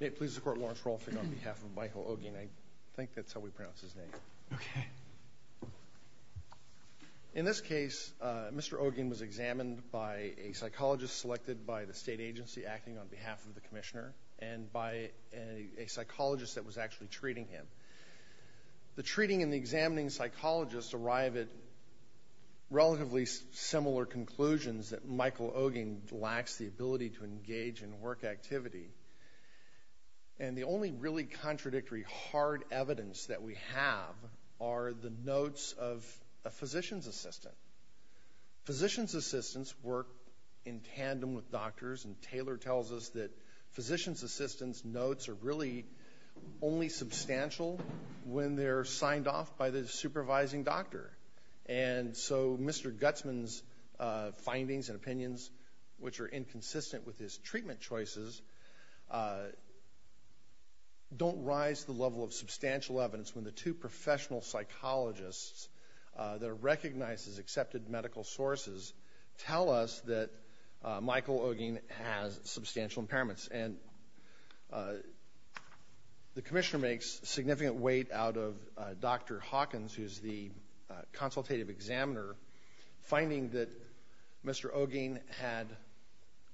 May it please the Court, Lawrence Rolfing on behalf of Michael Ogin. I think that's how we pronounce his name. Okay. In this case, Mr. Ogin was examined by a psychologist selected by the state agency acting on behalf of the commissioner and by a psychologist that was actually treating him. The treating and the examining psychologists arrive at relatively similar conclusions that Michael Ogin lacks the ability to engage in work activity. And the only really contradictory hard evidence that we have are the notes of a physician's assistant. Physician's assistants work in tandem with doctors, and Taylor tells us that physician's assistants' notes are really only substantial when they're signed off by the supervising doctor. And so Mr. Gutsman's findings and opinions, which are inconsistent with his treatment choices, don't rise to the level of substantial evidence when the two professional psychologists that are recognized as accepted medical sources tell us that Michael Ogin has substantial impairments. And the commissioner makes significant weight out of Dr. Hawkins, who's the consultative examiner, finding that Mr. Ogin had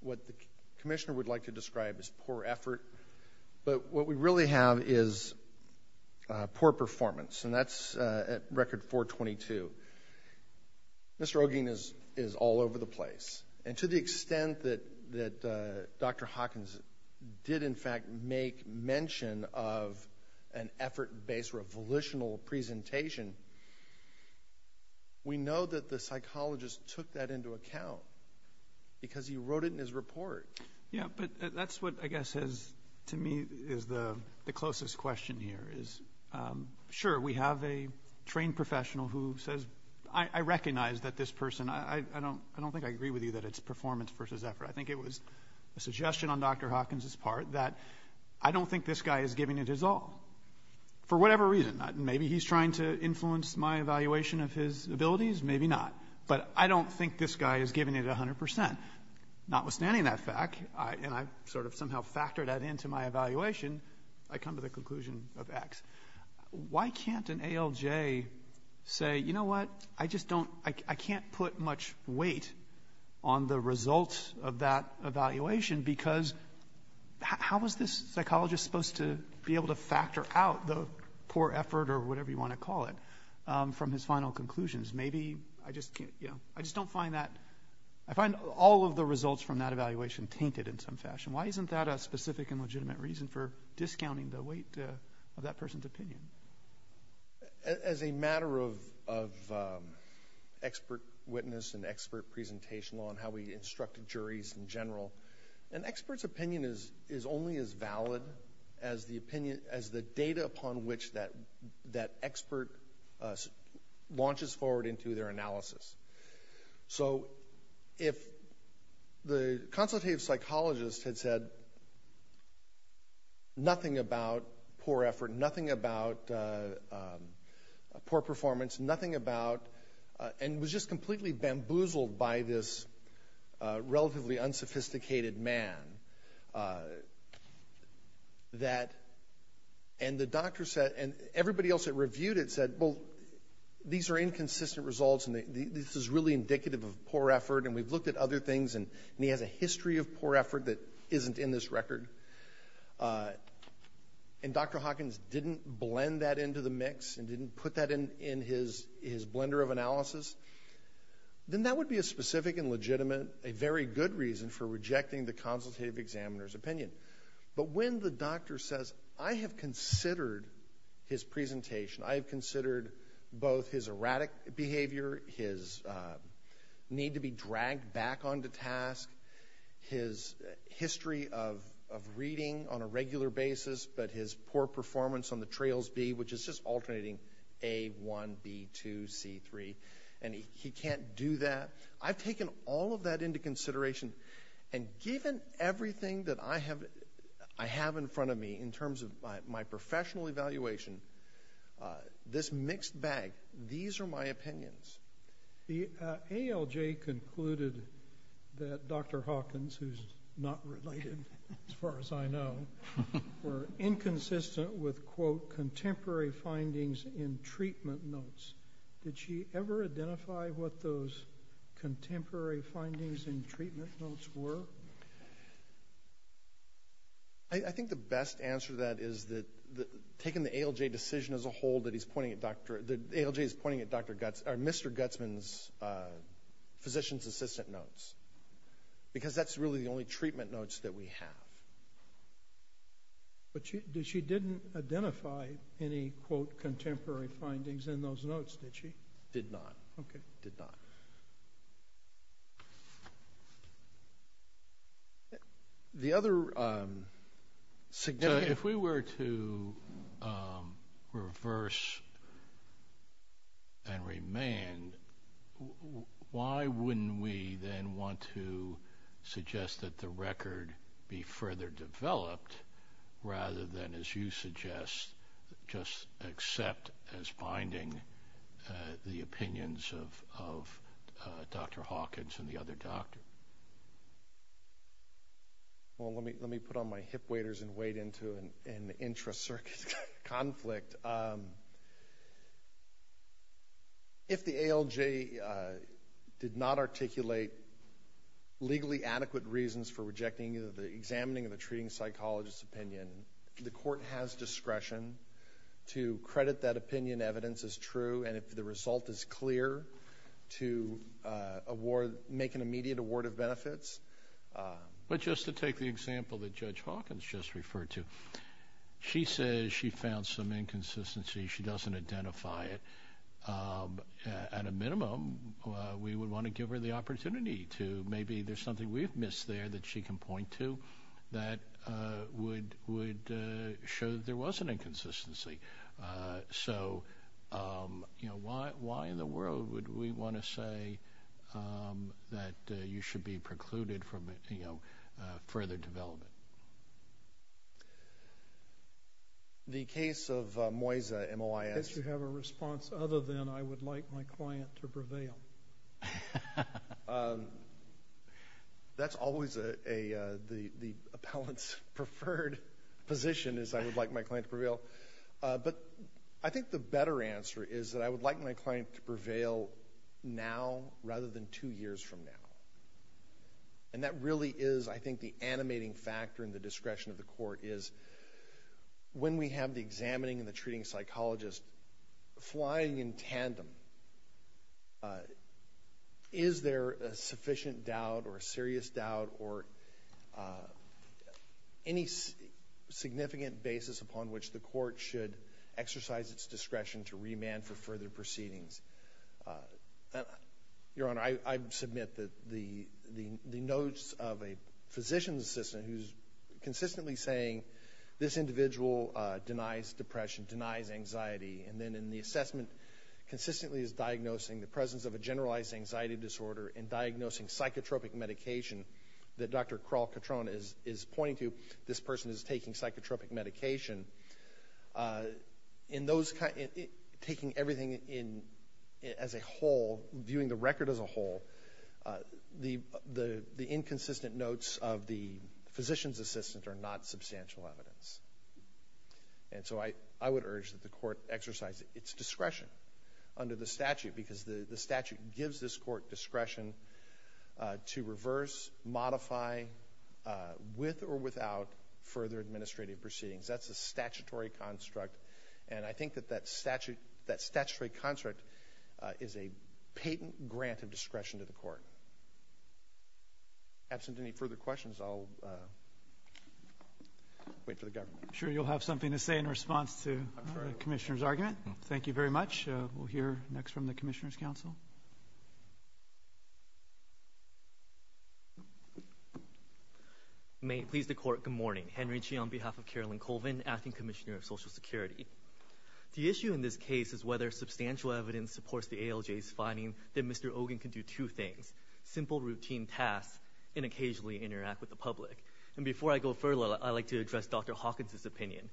what the commissioner would like to describe as poor effort. But what we really have is poor performance, and that's at record 422. Mr. Ogin is all over the place. And to the extent that Dr. Hawkins did, in fact, make mention of an effort-based revolutional presentation, we know that the psychologist took that into account because he wrote it in his report. Yeah, but that's what, I guess, to me is the closest question here is, sure, we have a trained professional who says, I recognize that this person, I don't think I agree with you that it's performance versus effort. I think it was a suggestion on Dr. Hawkins' part that I don't think this guy is giving it his all, for whatever reason. Maybe he's trying to influence my evaluation of his abilities, maybe not. But I don't think this guy is giving it 100%. Notwithstanding that fact, and I've sort of somehow factored that into my evaluation, I come to the conclusion of X. Why can't an ALJ say, you know what, I just don't, I can't put much weight on the results of that evaluation because how was this psychologist supposed to be able to factor out the poor effort or whatever you want to call it from his final conclusions? Maybe I just can't, you know, I just don't find that, I find all of the results from that evaluation tainted in some fashion. Why isn't that a specific and legitimate reason for discounting the weight of that person's opinion? As a matter of expert witness and expert presentation on how we instructed juries in general, an expert's opinion is only as valid as the data upon which that expert launches forward into their analysis. So if the consultative psychologist had said nothing about poor effort, nothing about poor performance, nothing about, and was just completely bamboozled by this relatively unsophisticated man, and the doctor said, and everybody else that reviewed it said, well, these are inconsistent results and this is really indicative of poor effort and we've looked at other things and he has a history of poor effort that isn't in this record, and Dr. Hawkins didn't blend that into the mix and didn't put that in his blender of analysis, then that would be a specific and legitimate, a very good reason for rejecting the consultative examiner's opinion. But when the doctor says, I have considered his presentation, I have considered both his erratic behavior, his need to be dragged back onto task, his history of reading on a regular basis, but his poor performance on the TRAILS-B, which is just alternating A1, B2, C3, and he can't do that. I've taken all of that into consideration, and given everything that I have in front of me in terms of my professional evaluation, this mixed bag, these are my opinions. The ALJ concluded that Dr. Hawkins, who's not related as far as I know, were inconsistent with, quote, contemporary findings in treatment notes. Did she ever identify what those contemporary findings in treatment notes were? I think the best answer to that is that taking the ALJ decision as a whole, that ALJ is pointing at Mr. Gutsman's physician's assistant notes, because that's really the only treatment notes that we have. But she didn't identify any, quote, contemporary findings in those notes, did she? Did not. Okay. Did not. The other significant- If we were to reverse and remand, why wouldn't we then want to suggest that the record be further developed rather than, as you suggest, just accept as binding the opinions of Dr. Hawkins and the other doctor? Well, let me put on my hip waders and wade into an intra-circuit conflict. If the ALJ did not articulate legally adequate reasons for rejecting either the examining or the treating psychologist's opinion, the court has discretion to credit that opinion evidence as true, and if the result is clear, to make an immediate award of benefits. But just to take the example that Judge Hawkins just referred to, she says she found some inconsistency. She doesn't identify it. At a minimum, we would want to give her the opportunity to, and maybe there's something we've missed there that she can point to that would show that there was an inconsistency. So, you know, why in the world would we want to say that you should be precluded from, you know, further development? The case of Moisa, M-O-I-S-A- That's always the appellant's preferred position, is I would like my client to prevail. But I think the better answer is that I would like my client to prevail now rather than two years from now. And that really is, I think, the animating factor in the discretion of the court, is when we have the examining and the treating psychologist flying in tandem, is there a sufficient doubt or a serious doubt or any significant basis upon which the court should exercise its discretion to remand for further proceedings? Your Honor, I submit that the notes of a physician's assistant who's consistently saying, this individual denies depression, denies anxiety, and then in the assessment consistently is diagnosing the presence of a generalized anxiety disorder and diagnosing psychotropic medication that Dr. Krall-Cotrone is pointing to, this person is taking psychotropic medication. In those, taking everything as a whole, viewing the record as a whole, the inconsistent notes of the physician's assistant are not substantial evidence. And so I would urge that the court exercise its discretion under the statute because the statute gives this court discretion to reverse, modify, with or without further administrative proceedings. That's a statutory construct, and I think that that statutory construct is a patent grant of discretion to the court. Absent any further questions, I'll wait for the government. I'm sure you'll have something to say in response to the Commissioner's argument. Thank you very much. We'll hear next from the Commissioner's Council. May it please the Court, good morning. Henry Chi on behalf of Carolyn Colvin, Acting Commissioner of Social Security. The issue in this case is whether substantial evidence supports the ALJ's finding that Mr. Ogin can do two things, simple routine tasks and occasionally interact with the public. And before I go further, I'd like to address Dr. Hawkins' opinion.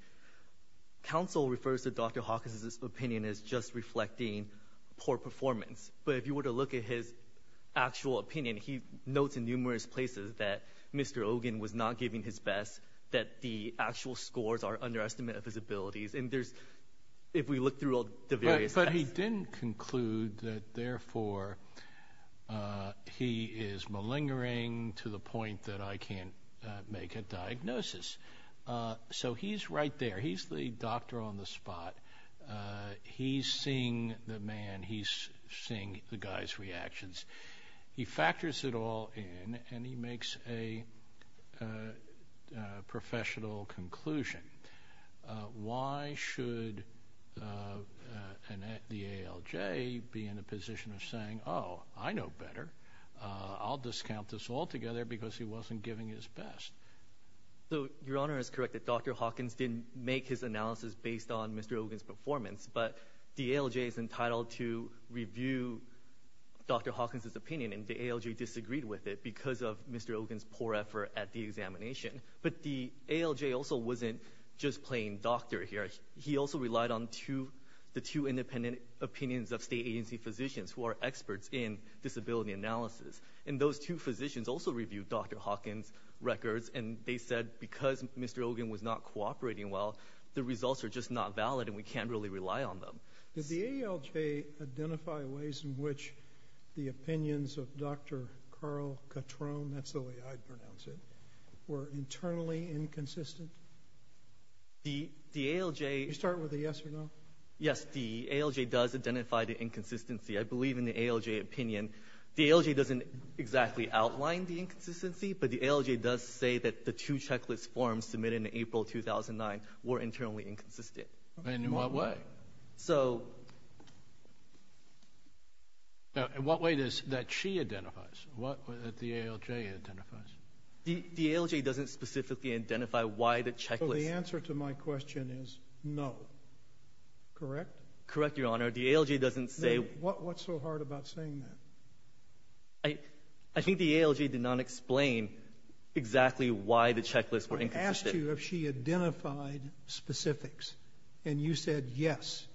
Council refers to Dr. Hawkins' opinion as just reflecting poor performance, but if you were to look at his actual opinion, he notes in numerous places that Mr. Ogin was not giving his best, that the actual scores are an underestimate of his abilities. And there's, if we look through all the various tests. But he didn't conclude that therefore he is malingering to the point that I can't make a diagnosis. So he's right there. He's the doctor on the spot. He's seeing the man. He's seeing the guy's reactions. He factors it all in, and he makes a professional conclusion. Why should the ALJ be in a position of saying, oh, I know better. I'll discount this altogether because he wasn't giving his best. Your Honor is correct that Dr. Hawkins didn't make his analysis based on Mr. Ogin's performance, but the ALJ is entitled to review Dr. Hawkins' opinion, and the ALJ disagreed with it because of Mr. Ogin's poor effort at the examination. But the ALJ also wasn't just playing doctor here. He also relied on the two independent opinions of state agency physicians who are experts in disability analysis. And those two physicians also reviewed Dr. Hawkins' records, and they said because Mr. Ogin was not cooperating well, the results are just not valid, and we can't really rely on them. Did the ALJ identify ways in which the opinions of Dr. Carl Cotrone, that's the way I'd pronounce it, were internally inconsistent? The ALJ. Can you start with a yes or no? Yes, the ALJ does identify the inconsistency. I believe in the ALJ opinion. The ALJ doesn't exactly outline the inconsistency, but the ALJ does say that the two checklist forms submitted in April 2009 were internally inconsistent. In what way? So. What way does that she identifies? What way that the ALJ identifies? The ALJ doesn't specifically identify why the checklist. So the answer to my question is no. Correct? Correct, Your Honor. The ALJ doesn't say. What's so hard about saying that? I think the ALJ did not explain exactly why the checklist were inconsistent. I asked you if she identified specifics, and you said yes.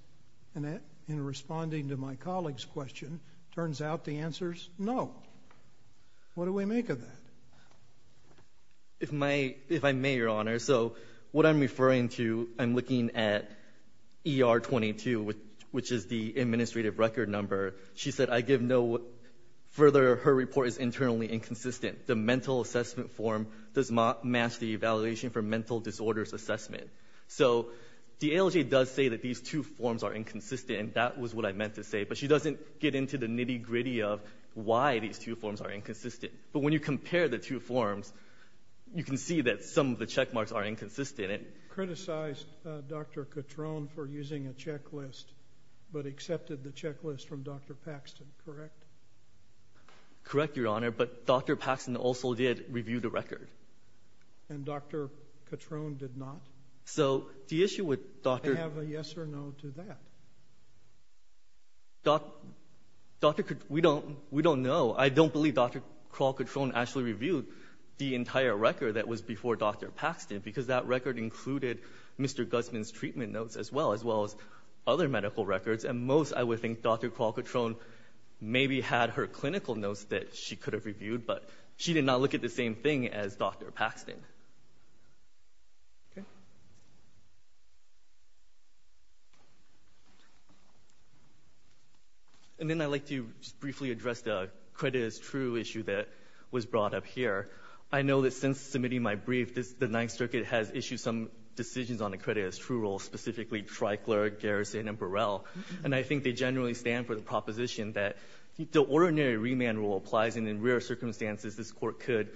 And in responding to my colleague's question, turns out the answer is no. What do we make of that? If I may, Your Honor. So what I'm referring to, I'm looking at ER-22, which is the administrative record number. She said, I give no further. Her report is internally inconsistent. The mental assessment form does not match the evaluation for mental disorders assessment. So the ALJ does say that these two forms are inconsistent, and that was what I meant to say, but she doesn't get into the nitty-gritty of why these two forms are inconsistent. But when you compare the two forms, you can see that some of the check marks are inconsistent. Criticized Dr. Catrone for using a checklist, but accepted the checklist from Dr. Paxton, correct? Correct, Your Honor, but Dr. Paxton also did review the record. And Dr. Catrone did not? So the issue with Dr. I have a yes or no to that. We don't know. I don't believe Dr. Crawl-Catrone actually reviewed the entire record that was before Dr. Paxton, because that record included Mr. Guzman's treatment notes as well, as well as other medical records. And most, I would think, Dr. Crawl-Catrone maybe had her clinical notes that she could have reviewed, but she did not look at the same thing as Dr. Paxton. And then I'd like to briefly address the credit as true issue that was brought up here. I know that since submitting my brief, the Ninth Circuit has issued some decisions on the credit as true rule, specifically Tricler, Garrison, and Burrell. And I think they generally stand for the proposition that the ordinary remand rule applies, and in rare circumstances, this Court could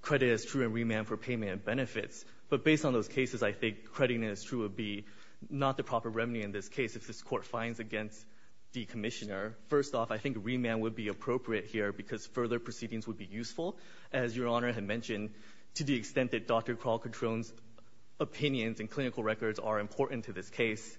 credit as true and remand for payment and benefits. But based on those cases, I think crediting it as true would be not the proper remedy in this case if this Court finds against the Commissioner. First off, I think remand would be appropriate here, because further proceedings would be useful, as Your Honor had mentioned, to the extent that Dr. Crawl-Catrone's opinions and clinical records are important to this case.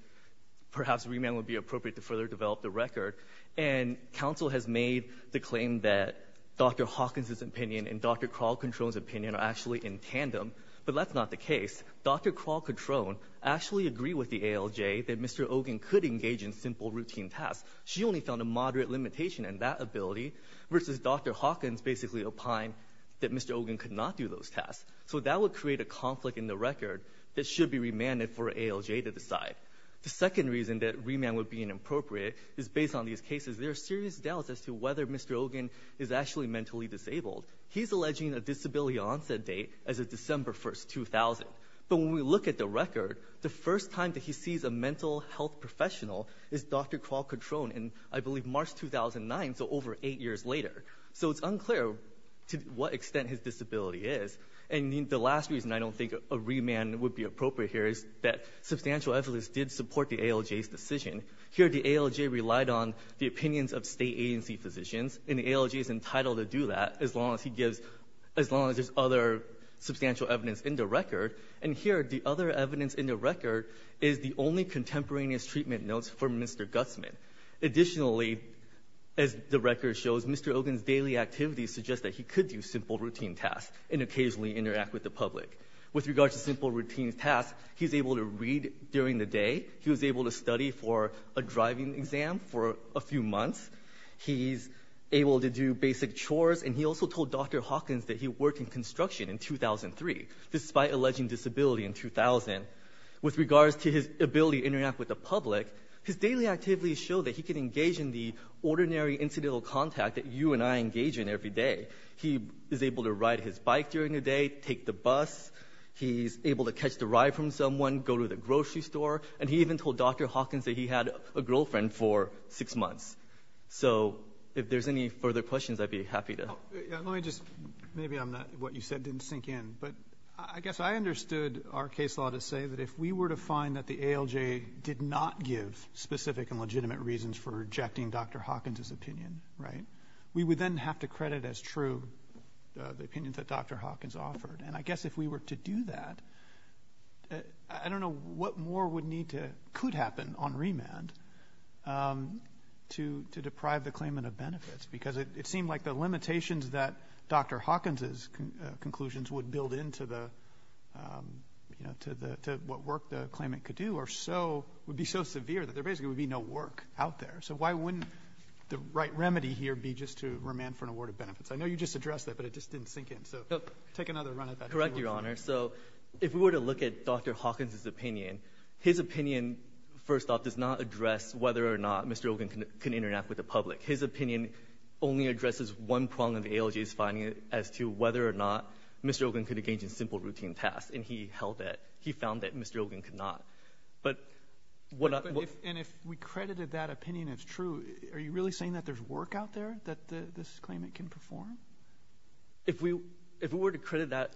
Perhaps remand would be appropriate to further develop the record. And counsel has made the claim that Dr. Hawkins's opinion and Dr. Crawl-Catrone's opinion are actually in tandem. But that's not the case. Dr. Crawl-Catrone actually agreed with the ALJ that Mr. Ogin could engage in simple routine tasks. She only found a moderate limitation in that ability, versus Dr. Hawkins basically opine that Mr. Ogin could not do those tasks. So that would create a conflict in the record that should be remanded for ALJ to decide. The second reason that remand would be inappropriate is, based on these cases, there are serious doubts as to whether Mr. Ogin is actually mentally disabled. He's alleging a disability onset date as of December 1, 2000. But when we look at the record, the first time that he sees a mental health professional is Dr. Crawl-Catrone in, I believe, March 2009, so over eight years later. So it's unclear to what extent his disability is. And the last reason I don't think a remand would be appropriate here is that substantial evidence did support the ALJ's decision. Here, the ALJ relied on the opinions of state agency physicians, and the ALJ is entitled to do that as long as he gives as long as there's other substantial evidence in the record. And here, the other evidence in the record is the only contemporaneous treatment notes for Mr. Gutsman. Additionally, as the record shows, Mr. Ogin's daily activities suggest that he could do simple routine tasks and occasionally interact with the public. With regards to simple routine tasks, he's able to read during the day. He was able to study for a driving exam for a few months. He's able to do basic chores. And he also told Dr. Hawkins that he worked in construction in 2003, despite alleging disability in 2000. With regards to his ability to interact with the public, his daily activities show that he can engage in the ordinary incidental contact that you and I engage in every day. He is able to ride his bike during the day, take the bus. He's able to catch the ride from someone, go to the grocery store. And he even told Dr. Hawkins that he had a girlfriend for six months. So if there's any further questions, I'd be happy to. Roberts. Let me just maybe I'm not what you said didn't sink in. But I guess I understood our case law to say that if we were to find that the ALJ did not give specific and legitimate reasons for rejecting Dr. Hawkins' opinion, right, we would then have to credit as true the opinion that Dr. Hawkins offered. And I guess if we were to do that, I don't know what more would need to or could happen on remand to deprive the claimant of benefits. Because it seemed like the limitations that Dr. Hawkins' conclusions would build into the, you know, to what work the claimant could do are so, would be so severe that there basically would be no work out there. So why wouldn't the right remedy here be just to remand for an award of benefits? I know you just addressed that, but it just didn't sink in. So take another run at that. Correct, Your Honor. So if we were to look at Dr. Hawkins' opinion, his opinion, first off, does not address whether or not Mr. Ogun can interact with the public. His opinion only addresses one prong of the ALJ's finding as to whether or not Mr. Ogun could engage in simple routine tasks. And he held that. He found that Mr. Ogun could not. But what I would ---- And if we credited that opinion as true, are you really saying that there's work out there that this claimant can perform? If we were to credit that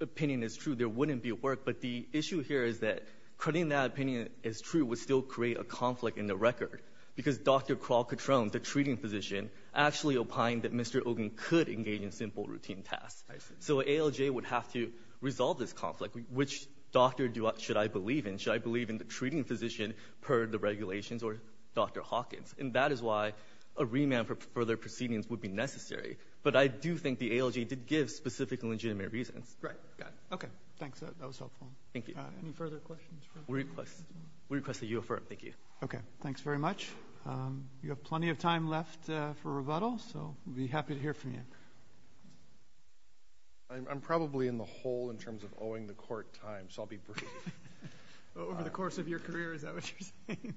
opinion as true, there wouldn't be work. But the issue here is that crediting that opinion as true would still create a conflict in the record, because Dr. Kral Katron, the treating physician, actually opined that Mr. Ogun could engage in simple routine tasks. I see. So an ALJ would have to resolve this conflict. Which doctor should I believe in? Should I believe in the treating physician, per the regulations, or Dr. Hawkins? And that is why a remand for further proceedings would be necessary. But I do think the ALJ did give specific and legitimate reasons. Right. Got it. Okay. Thanks. That was helpful. Thank you. Any further questions? We request that you affirm. Thank you. Okay. Thanks very much. You have plenty of time left for rebuttal, so we'll be happy to hear from you. I'm probably in the hole in terms of owing the court time, so I'll be brief. Over the course of your career, is that what you're saying?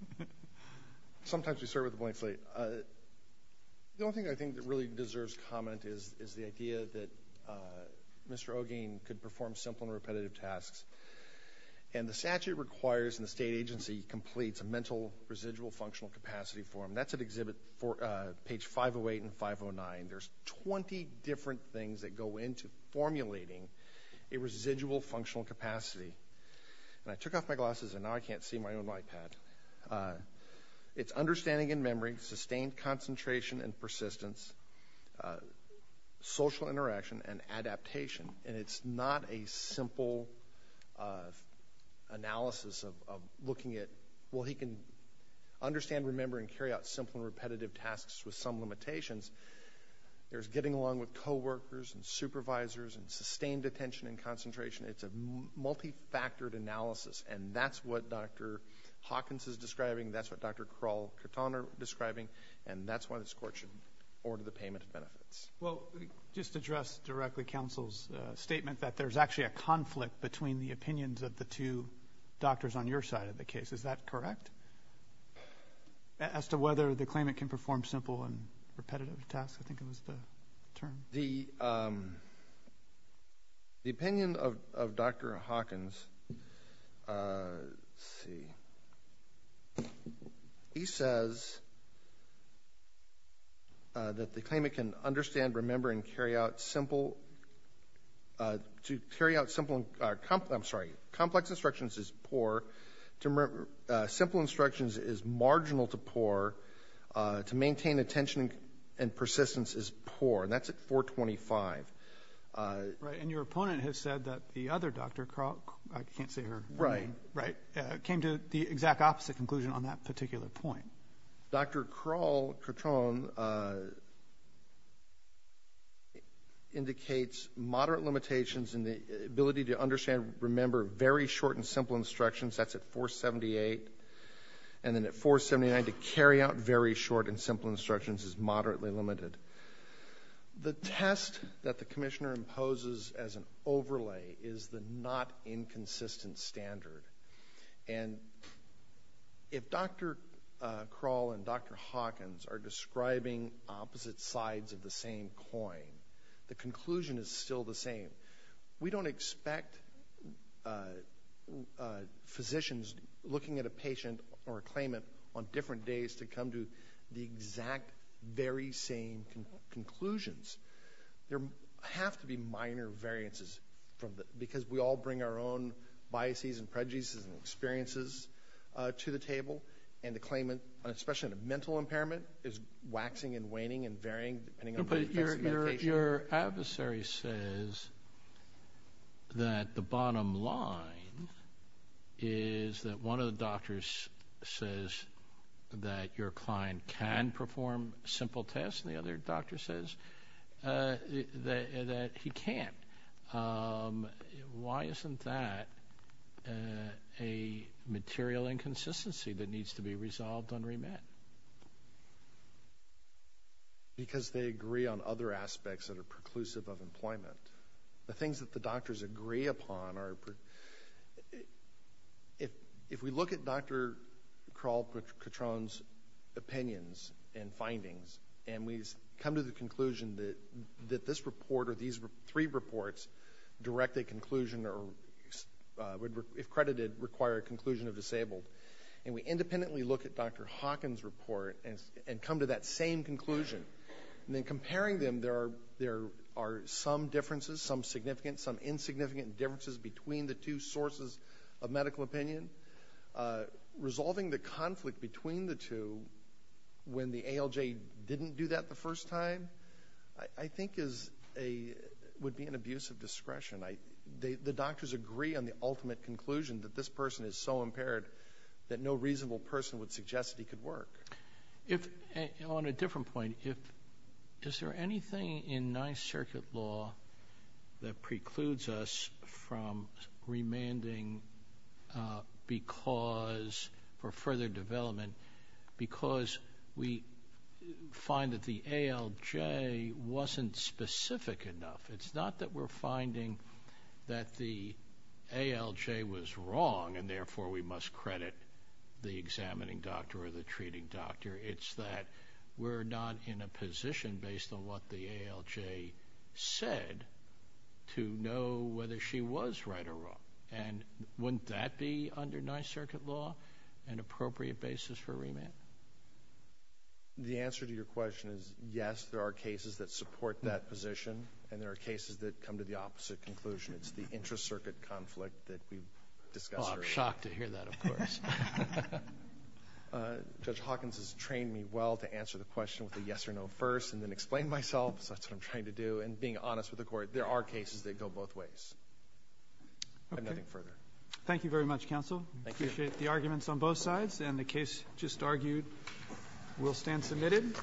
Sometimes we start with a blank slate. The only thing I think that really deserves comment is the idea that Mr. Ogun could perform simple and repetitive tasks. And the statute requires and the state agency completes a mental residual functional capacity form. That's at exhibit page 508 and 509. There's 20 different things that go into formulating a residual functional capacity. And I took off my glasses, and now I can't see my own iPad. It's understanding and memory, sustained concentration and persistence, social interaction, and adaptation. And it's not a simple analysis of looking at, well, he can understand, remember, and carry out simple and repetitive tasks with some limitations. There's getting along with coworkers and supervisors and sustained attention and concentration. It's a multifactored analysis, and that's what Dr. Hawkins is describing. That's what Dr. Krall-Cartan are describing. And that's why this court should order the payment of benefits. Well, just to address directly counsel's statement, that there's actually a conflict between the opinions of the two doctors on your side of the case. Is that correct? As to whether the claimant can perform simple and repetitive tasks, I think it was the term. The opinion of Dr. Hawkins, let's see, he says that the claimant can understand, remember, and carry out simple. To carry out simple, I'm sorry, complex instructions is poor. Simple instructions is marginal to poor. To maintain attention and persistence is poor. And that's at 425. Right. And your opponent has said that the other Dr. Krall, I can't say her name. Right. Right. Came to the exact opposite conclusion on that particular point. Dr. Krall-Cartan indicates moderate limitations in the ability to understand, remember, very short and simple instructions, that's at 478. And then at 479, to carry out very short and simple instructions is moderately limited. The test that the commissioner imposes as an overlay is the not inconsistent standard. And if Dr. Krall and Dr. Hawkins are describing opposite sides of the same coin, the conclusion is still the same. We don't expect physicians looking at a patient or a claimant on different days to come to the exact very same conclusions. There have to be minor variances because we all bring our own biases and prejudices and experiences to the table. And the claimant, especially in a mental impairment, is waxing and waning and varying depending on the face of the patient. But your adversary says that the bottom line is that one of the doctors says that your client can perform simple tests and the other doctor says that he can't. Why isn't that a material inconsistency that needs to be resolved and remit? Because they agree on other aspects that are preclusive of employment. The things that the doctors agree upon are... If we look at Dr. Krall-Cotrone's opinions and findings, and we come to the conclusion that this report or these three reports direct a conclusion or, if credited, require a conclusion of disabled, and we independently look at Dr. Hawkins' report and come to that same conclusion, and then comparing them, there are some differences, some significant, some insignificant differences between the two sources of medical opinion. Resolving the conflict between the two when the ALJ didn't do that the first time, I think, would be an abuse of discretion. The doctors agree on the ultimate conclusion that this person is so impaired that no reasonable person would suggest that he could work. On a different point, is there anything in Ninth Circuit law that precludes us from remanding for further development because we find that the ALJ wasn't specific enough? It's not that we're finding that the ALJ was wrong and, therefore, we must credit the examining doctor or the treating doctor. It's that we're not in a position, based on what the ALJ said, to know whether she was right or wrong. And wouldn't that be, under Ninth Circuit law, an appropriate basis for remand? The answer to your question is, yes, there are cases that support that position, and there are cases that come to the opposite conclusion. It's the intra-circuit conflict that we discussed earlier. Oh, I'm shocked to hear that, of course. Judge Hawkins has trained me well to answer the question with a yes or no first and then explain myself, so that's what I'm trying to do, and being honest with the court. There are cases that go both ways. I have nothing further. Okay. Thank you very much, counsel. Thank you. I appreciate the arguments on both sides, and the case just argued will stand submitted.